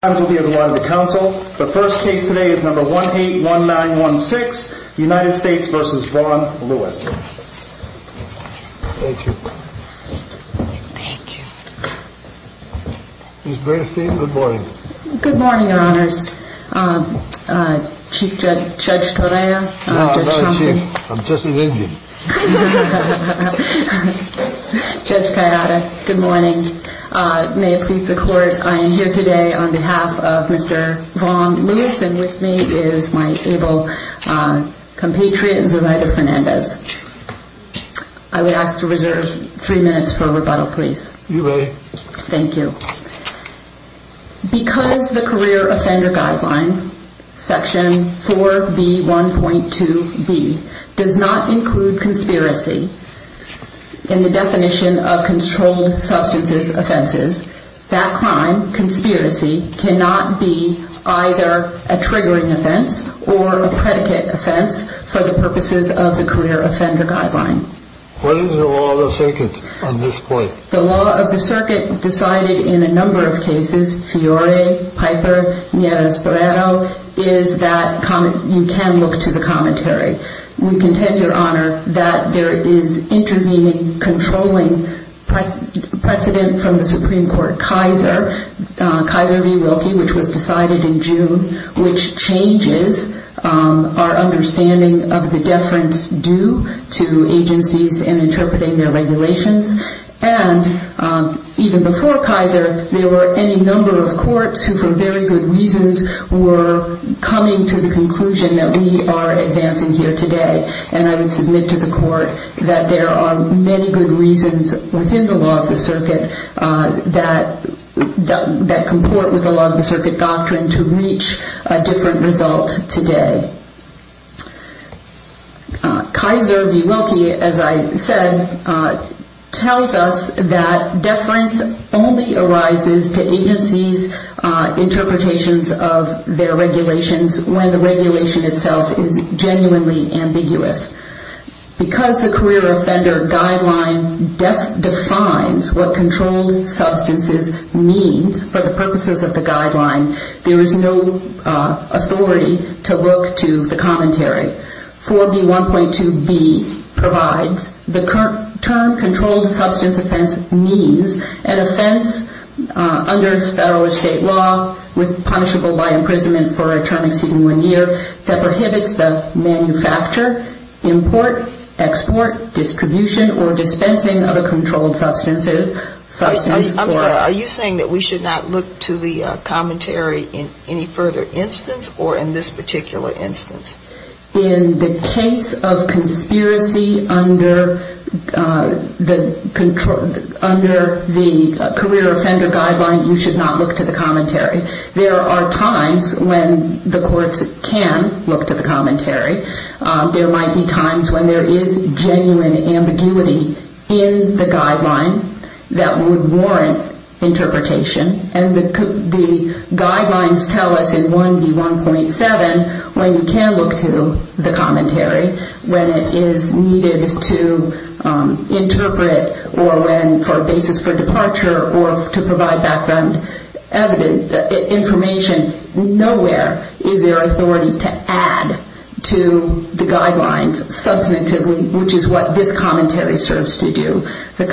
Thank you, thank you, good morning your honors, Chief Judge Torea, Judge Kayada, good morning, may it please the court, I am here today on behalf of Mr. Vaughn Lewis and with me is my able compatriot, Zoraida Fernandez. I would ask to reserve three minutes for rebuttal please. You may. Thank you, because the career offender guideline section 4B1.2B does not include conspiracy in the definition of controlled substances offenses, that crime, conspiracy, cannot be either a triggering offense or a predicate offense for the purposes of the career offender guideline. What is the law of the circuit at this point? I would submit to the court that there are many good reasons within the law of the circuit that comport with the law of the circuit doctrine to reach a different result today. Kaiser v. Wilkie, as I said, tells us that deference only arises to agencies interpretations of their regulations when the regulation itself is genuinely ambiguous. Because the career offender guideline defines what controlled substances means for the purposes of the guideline, there is no authority to look to the commentary. Are you saying that we should not look to the commentary in any further instance or in this particular instance? In the case of conspiracy under the career offender guideline, you should not look to the commentary. There are times when the courts can look to the commentary. There might be times when there is genuine ambiguity in the guideline that would warrant interpretation and the guidelines tell us in 1B1.7 when you can look to the commentary when it is needed to interpret or when for a basis for departure or to provide background information. Nowhere is there authority to add to the guidelines substantively, which is what this commentary serves to do. The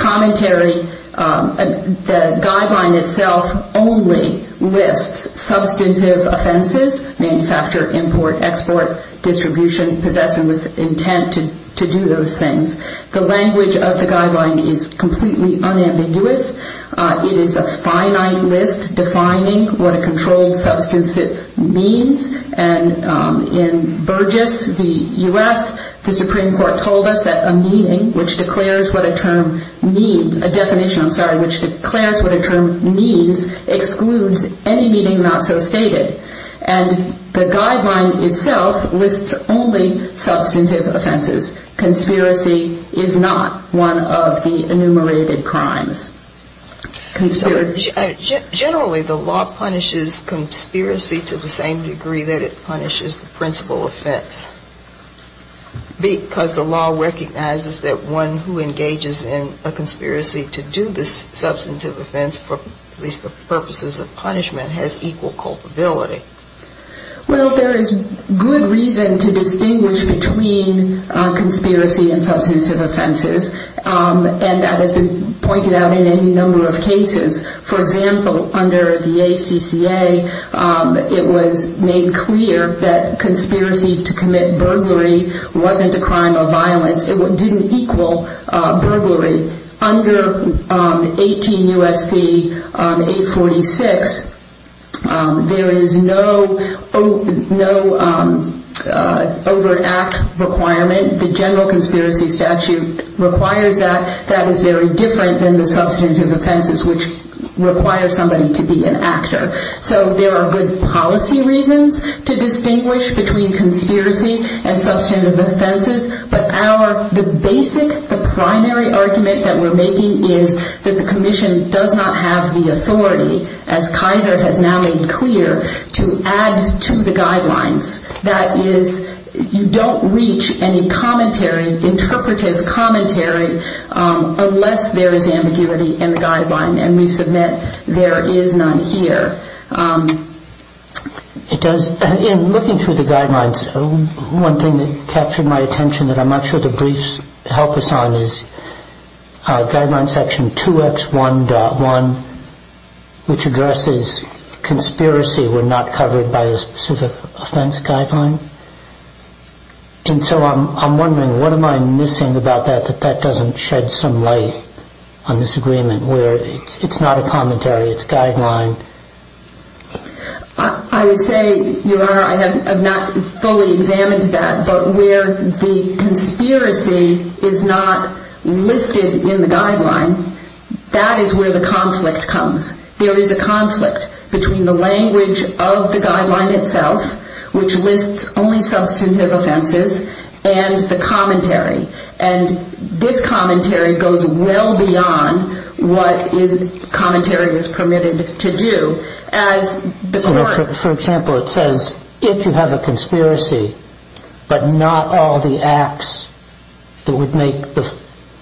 guideline itself only lists substantive offenses, manufacture, import, export, distribution, possessing with intent to do those things. The language of the guideline is completely unambiguous. It is a finite list defining what a controlled substance means. In Burgess, the U.S., the Supreme Court told us that a meaning which declares what a term means, a definition, I'm sorry, which declares what a term means excludes any meaning not so stated. And the guideline itself lists only substantive offenses. Conspiracy is not one of the enumerated crimes. Generally, the law punishes conspiracy to the same degree that it punishes the principal offense because the law recognizes that one who engages in a conspiracy to do this substantive offense for the purposes of punishment has equal culpability. Well, there is good reason to distinguish between conspiracy and substantive offenses, and that has been pointed out in any number of cases. For example, under the ACCA, it was made clear that conspiracy to commit burglary wasn't a crime of violence. It didn't equal burglary. Under 18 U.S.C. 846, there is no overact requirement. The general conspiracy statute requires that. That is very different than the substantive offenses which require somebody to be an actor. So there are good policy reasons to distinguish between conspiracy and substantive offenses, but the basic, the primary argument that we're making is that the commission does not have the authority, as Kaiser has now made clear, to add to the guidelines. That is, you don't reach any commentary, interpretive commentary, unless there is ambiguity in the guideline, and we submit there is none here. In looking through the guidelines, one thing that captured my attention that I'm not sure the briefs help us on is guideline section 2X1.1, which addresses conspiracy when not covered by a specific offense guideline. And so I'm wondering, what am I missing about that that that doesn't shed some light on this agreement where it's not a commentary, it's guideline? I would say, Your Honor, I have not fully examined that, but where the conspiracy is not listed in the guideline, that is where the conflict comes. There is a conflict between the language of the guideline itself, which lists only substantive offenses, and the commentary. And this commentary goes well beyond what commentary is permitted to do. For example, it says, if you have a conspiracy, but not all the acts that would make the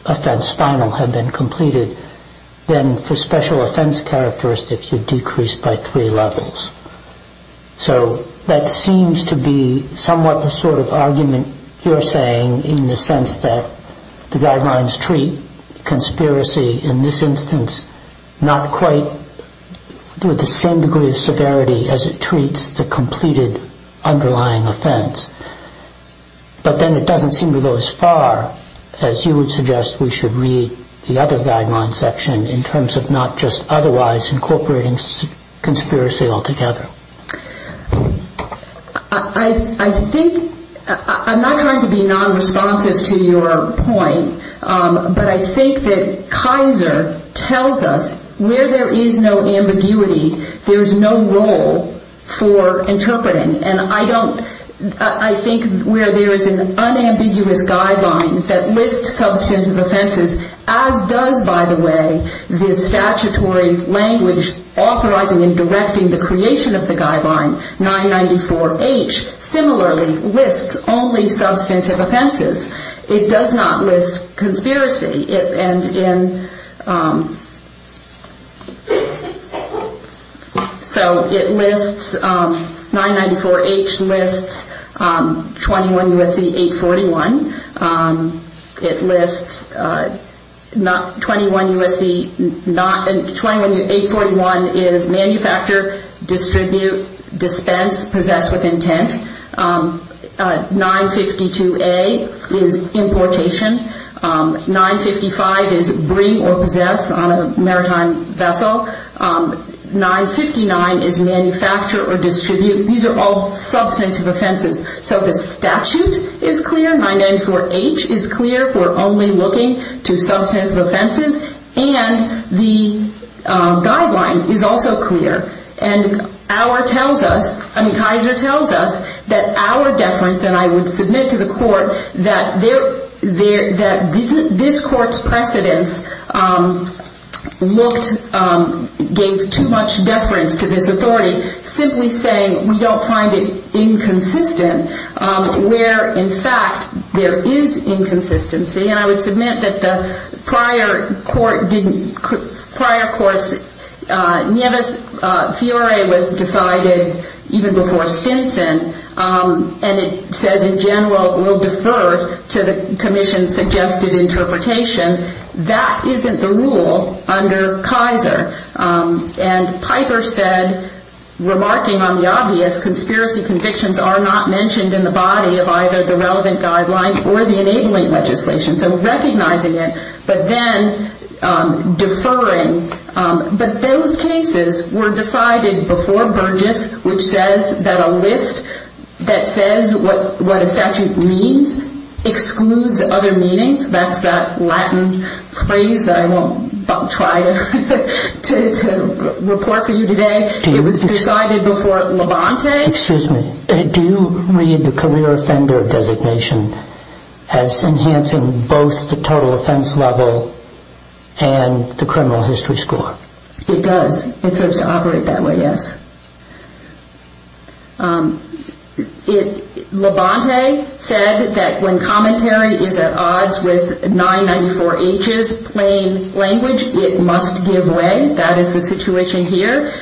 offense final have been completed, then for special offense characteristics, you decrease by three levels. So that seems to be somewhat the sort of argument you're saying in the sense that the guidelines treat conspiracy in this instance not quite with the same degree of severity as it treats the completed underlying offense. But then it doesn't seem to go as far as you would suggest we should read the other guideline section in terms of not just otherwise incorporating conspiracy altogether. I think, I'm not trying to be non-responsive to your point, but I think that Kaiser tells us where there is no ambiguity, there is no role for interpreting. And I don't, I think where there is an unambiguous guideline that lists substantive offenses, as does, by the way, the statutory language authorizing and directing the creation of the guideline, 994H, similarly lists only substantive offenses. It does not list conspiracy, and in, so it lists, 994H lists 21 U.S.C. 841, it lists 21 U.S.C., 21 U.S.C. 841 is manufacture, distribute, dispense, possess with intent. 952A is importation. 955 is bring or possess on a maritime vessel. 959 is manufacture or distribute. These are all substantive offenses. So the statute is clear, 994H is clear for only looking to substantive offenses, and the guideline is also clear. And our tells us, I mean, Kaiser tells us that our deference, and I would submit to the court that this court's precedence looked, gave too much deference to this authority, simply saying we don't find it inconsistent where, in fact, there is inconsistency. And I would submit that the prior court didn't, prior court's, Nieves-Fiore was decided even before Stinson, and it says, in general, will defer to the commission's suggested interpretation. That isn't the rule under Kaiser, and Piper said, remarking on the obvious, conspiracy convictions are not mentioned in the body of either the relevant guideline or the enabling legislation. So recognizing it, but then deferring. But those cases were decided before Burgess, which says that a list that says what a statute means excludes other meanings. That's that Latin phrase that I won't try to report for you today. It was decided before Levante. Excuse me. Do you read the career offender designation as enhancing both the total offense level and the criminal history score? It does. It serves to operate that way, yes. Levante said that when commentary is at odds with 994H's plain language, it must give way. That is the situation here.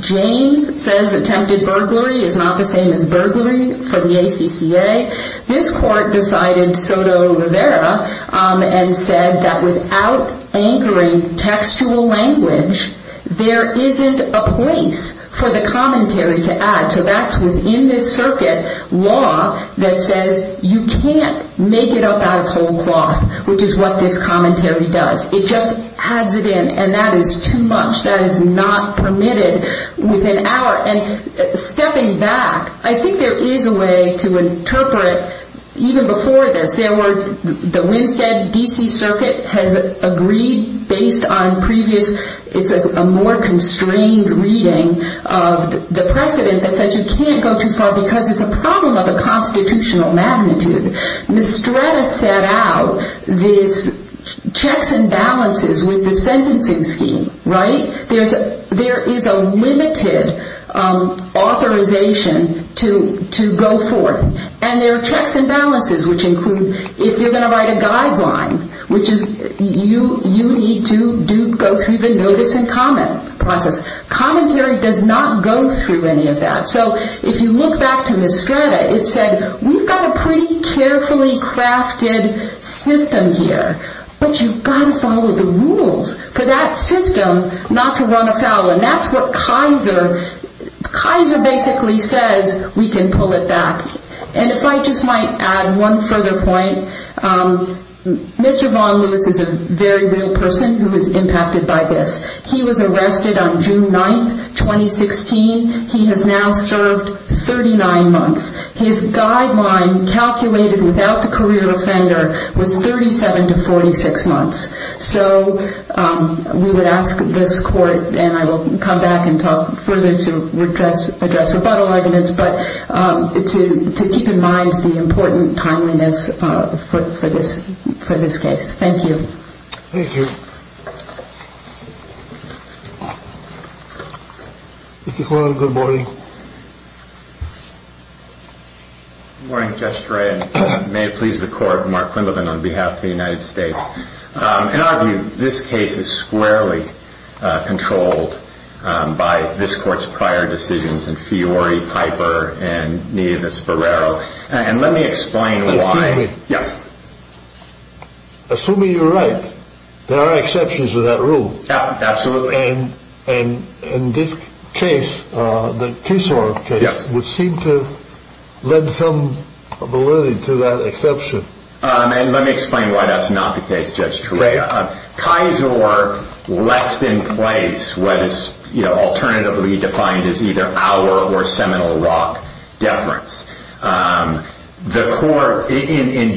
James says attempted burglary is not the same as burglary for the ACCA. This court decided Soto Rivera and said that without anchoring textual language, there isn't a place for the commentary to add. So that's within this circuit law that says you can't make it up out of whole cloth, which is what this commentary does. It just adds it in, and that is too much. That is not permitted within our. And stepping back, I think there is a way to interpret even before this. There were the Winstead D.C. Circuit has agreed based on previous. It's a more constrained reading of the precedent that says you can't go too far because it's a problem of the constitutional magnitude. Mistretta set out these checks and balances with the sentencing scheme, right? There is a limited authorization to go forth. And there are checks and balances, which include if you're going to write a guideline, which you need to go through the notice and comment process. Commentary does not go through any of that. There is a carefully crafted system here, but you've got to follow the rules for that system not to run afoul. And that's what Kaiser basically says we can pull it back. And if I just might add one further point, Mr. Vaughn Lewis is a very real person who is impacted by this. He was arrested on June 9th, 2016. He has now served 39 months. His guideline calculated without the career offender was 37 to 46 months. So we would ask this court and I will come back and talk further to address rebuttal arguments. But to keep in mind the important timeliness for this for this case. Thank you. Thank you. Good morning. May it please the court. Mark Quinlivan on behalf of the United States. This case is squarely controlled by this court's prior decisions and Fiori, Piper and me. And let me explain why. Yes. Assuming you're right, there are exceptions to that rule. Absolutely. And in this case, the case would seem to lead some validity to that exception. And let me explain why that's not the case. Judge Kizer left in place what is alternatively defined as either our or Seminole Rock deference. In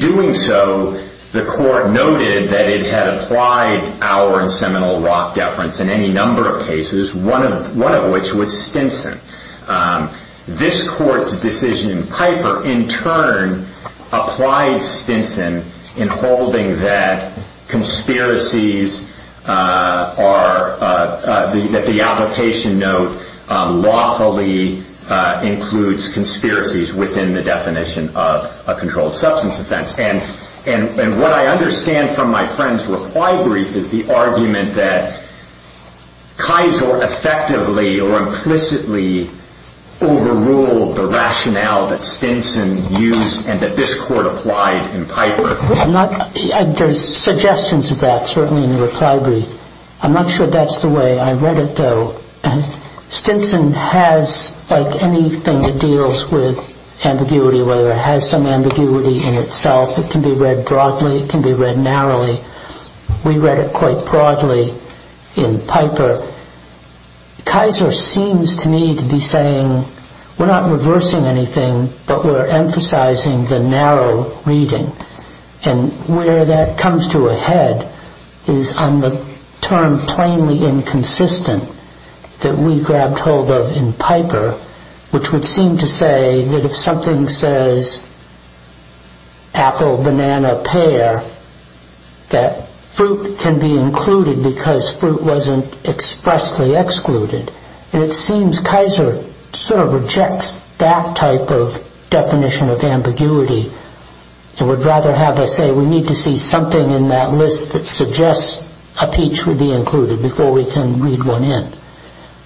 doing so, the court noted that it had applied our and Seminole Rock deference in any number of cases, one of which was Stinson. This court's decision in Piper in turn applied Stinson in holding that conspiracies are that the application note lawfully includes conspiracies within the definition of a controlled substance offense. And what I understand from my friend's reply brief is the argument that he overruled the rationale that Stinson used and that this court applied in Piper. There's suggestions of that, certainly in the reply brief. I'm not sure that's the way I read it, though. Stinson has like anything that deals with ambiguity, whether it has some ambiguity in itself. It can be read broadly. It can be read narrowly. We read it quite broadly in Piper. Kizer seems to me to be saying we're not reversing anything, but we're emphasizing the narrow reading. And where that comes to a head is on the term plainly inconsistent that we grabbed hold of in Piper, which would seem to say that if something says apple, banana, pear, that fruit can be included because fruit wasn't expressly excluded. And it seems Kizer sort of rejects that type of definition of ambiguity and would rather have us say we need to see something in that list that suggests a peach would be included before we can read one in.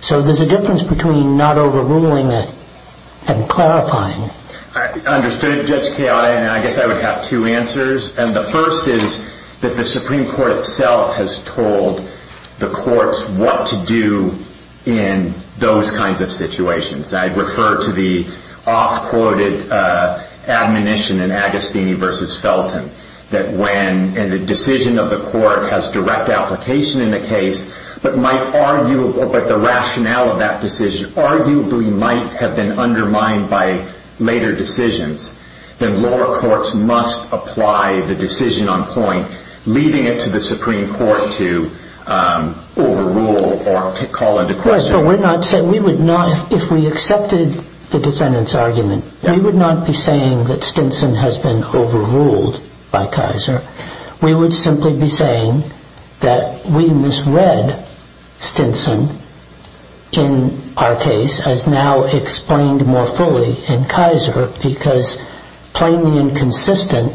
So there's a difference between not overruling it and clarifying. I understood it, Judge Chiara, and I guess I would have two answers. And the first is that the Supreme Court itself has told the courts what to do in those kinds of situations. I refer to the off-quoted admonition in Agostini v. Felton, that when the decision of the court has direct application in the case, but the rationale of that decision arguably might have been undermined by later decisions, then lower courts must apply the decision on point, leaving it to the Supreme Court to overrule or to call into question. Right, but if we accepted the defendant's argument, we would not be saying that Stinson has been overruled by Kizer. We would simply be saying that we misread Stinson in our case as now explained more fully in Kizer because plainly inconsistent,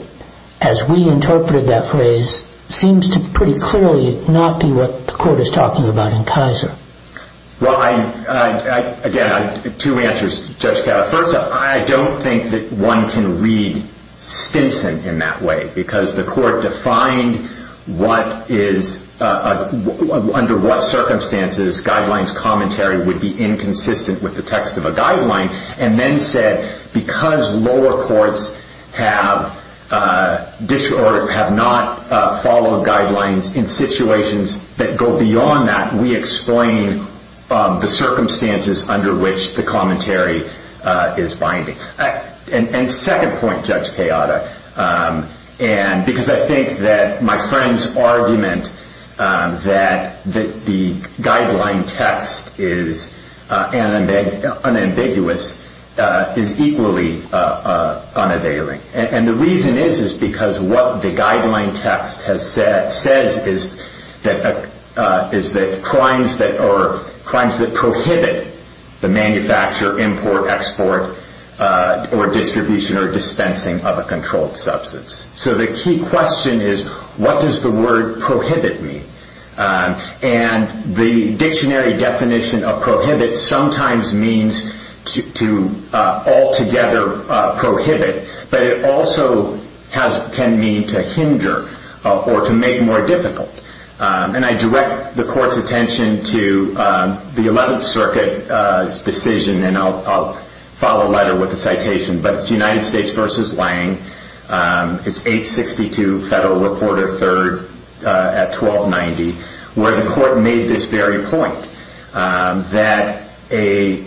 as we interpreted that phrase, seems to pretty clearly not be what the court is talking about in Kizer. Well, again, two answers, Judge Chiara. First up, I don't think that one can read Stinson in that way because the court defined under what circumstances guidelines commentary would be inconsistent with the text of a guideline, and then said because lower courts have not followed guidelines in situations that go beyond that, we explain the circumstances under which the commentary is binding. And second point, Judge Chiara, because I think that my friend's argument that the guideline text is unambiguous is equally unavailing. And the reason is because what the guideline text says is that crimes that prohibit the manufacture, import, export, or distribution or dispensing of a controlled substance. So the key question is what does the word prohibit mean? And the dictionary definition of prohibit sometimes means to altogether prohibit, but it also can mean to hinder or to make more difficult. And I direct the court's attention to the 11th Circuit's decision and I'll follow later with the citation, but it's United States v. Lange. It's 862 Federal Reporter 3rd at 1290, where the court made this very point that a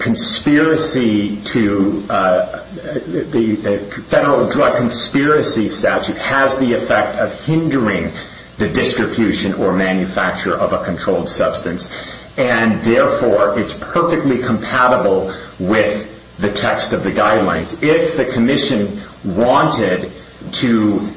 federal drug conspiracy statute has the effect of hindering the distribution or manufacture of a controlled substance and therefore it's perfectly compatible with the text of the guidelines. If the commission wanted to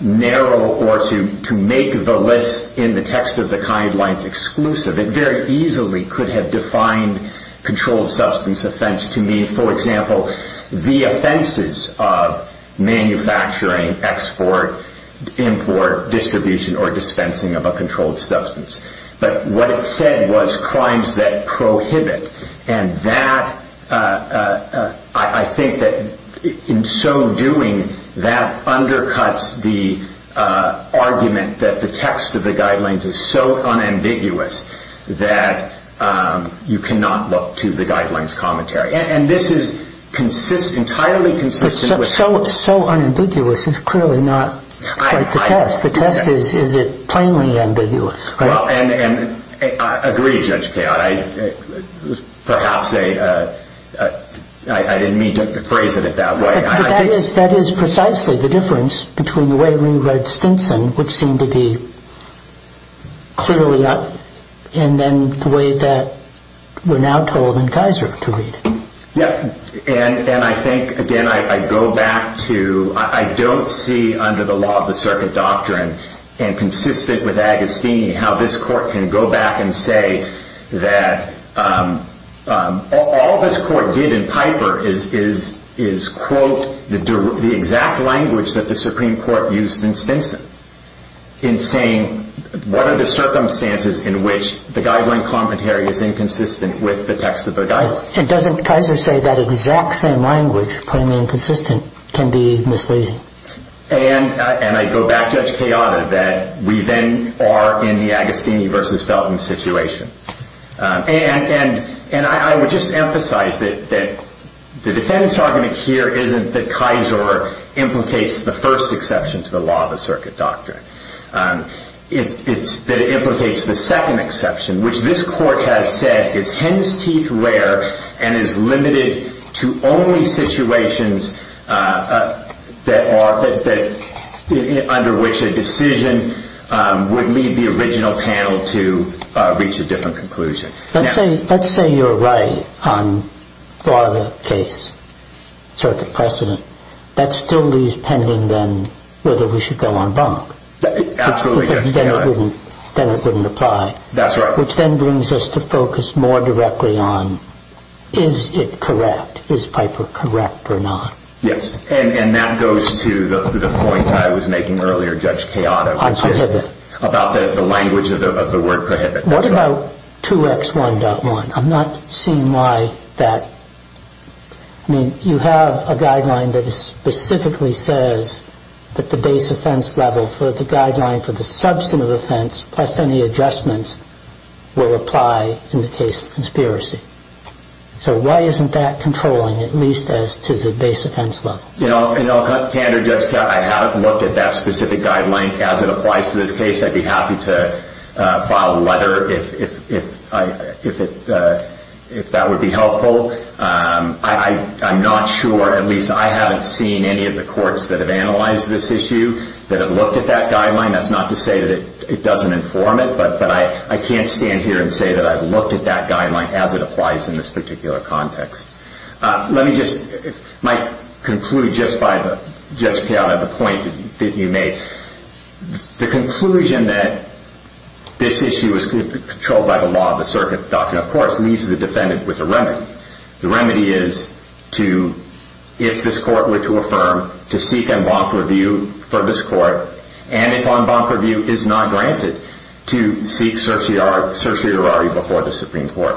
narrow or to make the list in the text of the guidelines exclusive, it very easily could have defined controlled substance offense to mean, for example, the offenses of manufacturing, export, import, distribution, or dispensing of a controlled substance. But what it said was crimes that prohibit. And I think that in so doing, that undercuts the argument that the text of the guidelines is so unambiguous that you cannot look to the guidelines commentary. And this is entirely consistent with... So unambiguous is clearly not quite the test. The test is, is it plainly ambiguous? I agree, Judge Kayotte. That is precisely the difference between the way we read Stinson, which seemed to be clearly up, and then the way that we're now told in Kaiser to read. And I think, again, I go back to... I don't see under the law of the circuit doctrine and consistent with Agostini how this court can go back and say that all this court did in Piper is quote the exact language that the Supreme Court used in Stinson in saying what are the circumstances in which the guideline commentary is inconsistent with the text of the guidelines. And doesn't Kaiser say that exact same language, plainly inconsistent, can be misleading? And I go back, Judge Kayotte, that we then are in the Agostini versus Felton situation. And I would just emphasize that the defendant's argument here isn't that Kaiser implicates the first exception to the law of the circuit doctrine. It's that it implicates the second exception, which this court has said is hen's teeth rare and is limited to only situations that are... under which a decision would lead the original panel to reach a different conclusion. Let's say you're right on law of the case, circuit precedent. That still leaves pending then whether we should go on bonk. Absolutely. Because then it wouldn't apply. That's right. Which then brings us to focus more directly on is it correct? Is Piper correct or not? Yes. And that goes to the point I was making earlier, Judge Kayotte. On prohibit. About the language of the word prohibit. What about 2X1.1? I'm not seeing why that... I mean, you have a guideline that specifically says that the base offense level for the guideline for the substantive offense plus any adjustments will apply in the case of conspiracy. So why isn't that controlling, at least as to the base offense level? You know, Candor, Judge Kayotte, I haven't looked at that specific guideline. As it applies to this case, I'd be happy to file a letter if that would be helpful. I'm not sure, at least I haven't seen any of the courts that have analyzed this issue that have looked at that guideline. That's not to say that it doesn't inform it, but I can't stand here and say that I've looked at that guideline as it applies in this particular context. Let me just conclude just by, Judge Kayotte, the point that you make. The conclusion that this issue is controlled by the law of the circuit doctrine, of course, leaves the defendant with a remedy. The remedy is to, if this court were to affirm, to seek en banc review for this court, and if en banc review is not granted, to seek certiorari before the Supreme Court.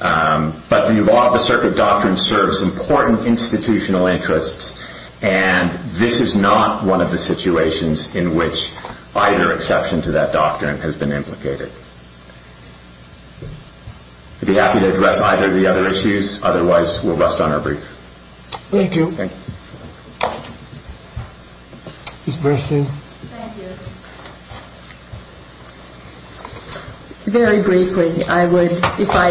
But the law of the circuit doctrine serves important institutional interests, and this is not one of the situations in which either exception to that doctrine has been implicated. I'd be happy to address either of the other issues. Otherwise, we'll rest on our brief. Thank you. Thank you. Ms. Bernstein. Thank you. Very briefly, I would, if I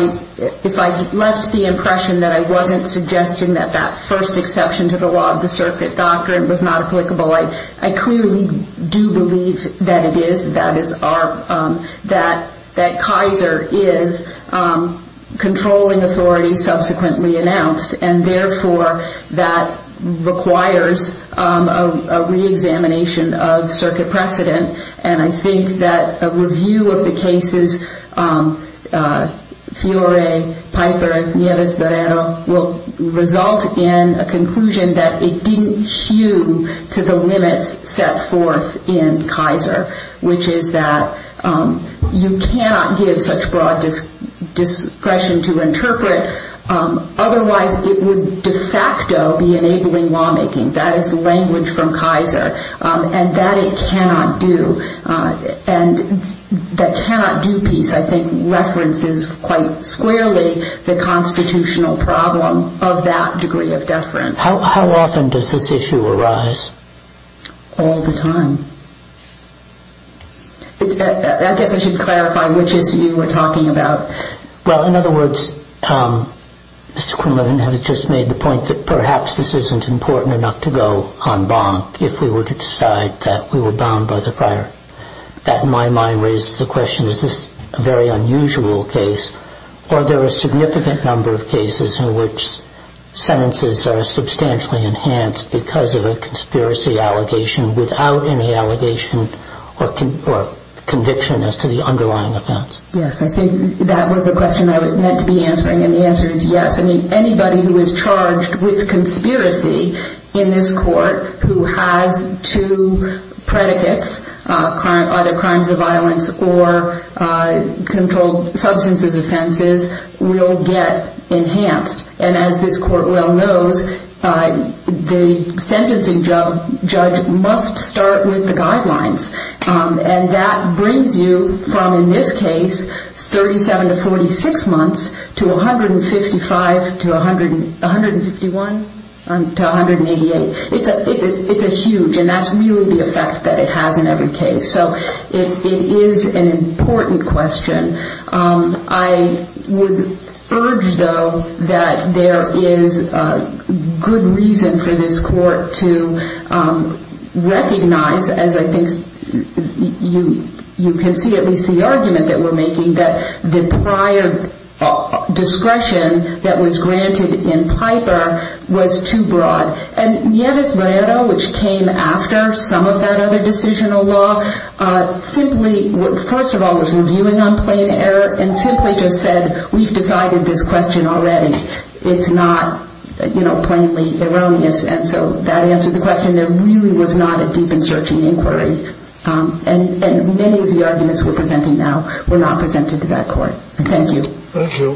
left the impression that I wasn't suggesting that that first exception to the law of the circuit doctrine was not applicable, I clearly do believe that it is, that Kaiser is controlling authority subsequently announced, and therefore that requires a reexamination of circuit precedent. And I think that a review of the cases, Fiore, Piper, Nieves, Barrero, will result in a conclusion that it didn't hew to the limits set forth in Kaiser, which is that you cannot give such broad discretion to interpret. Otherwise, it would de facto be enabling lawmaking. That is the language from Kaiser, and that it cannot do. And that cannot do piece, I think, references quite squarely the constitutional problem of that degree of deference. How often does this issue arise? All the time. I guess I should clarify which issue we're talking about. Well, in other words, Mr. Quinlan, have you just made the point that perhaps this isn't important enough to go en banc if we were to decide that we were bound by the prior? That, in my mind, raises the question, is this a very unusual case, or are there a significant number of cases in which sentences are substantially enhanced because of a conspiracy allegation without any allegation or conviction as to the underlying offense? Yes, I think that was the question I was meant to be answering, and the answer is yes. I mean, anybody who is charged with conspiracy in this court who has two predicates, either crimes of violence or controlled substances offenses, will get enhanced. And as this court well knows, the sentencing judge must start with the guidelines. And that brings you from, in this case, 37 to 46 months to 155 to 151 to 188. It's a huge, and that's really the effect that it has in every case. So it is an important question. I would urge, though, that there is good reason for this court to recognize, as I think you can see at least the argument that we're making, that the prior discretion that was granted in Piper was too broad. And Nieves-Morero, which came after some of that other decisional law, simply, first of all, was reviewing on plain error and simply just said, we've decided this question already. It's not, you know, plainly erroneous. And so that answers the question. There really was not a deep and searching inquiry. And many of the arguments we're presenting now were not presented to that court. Thank you. Thank you.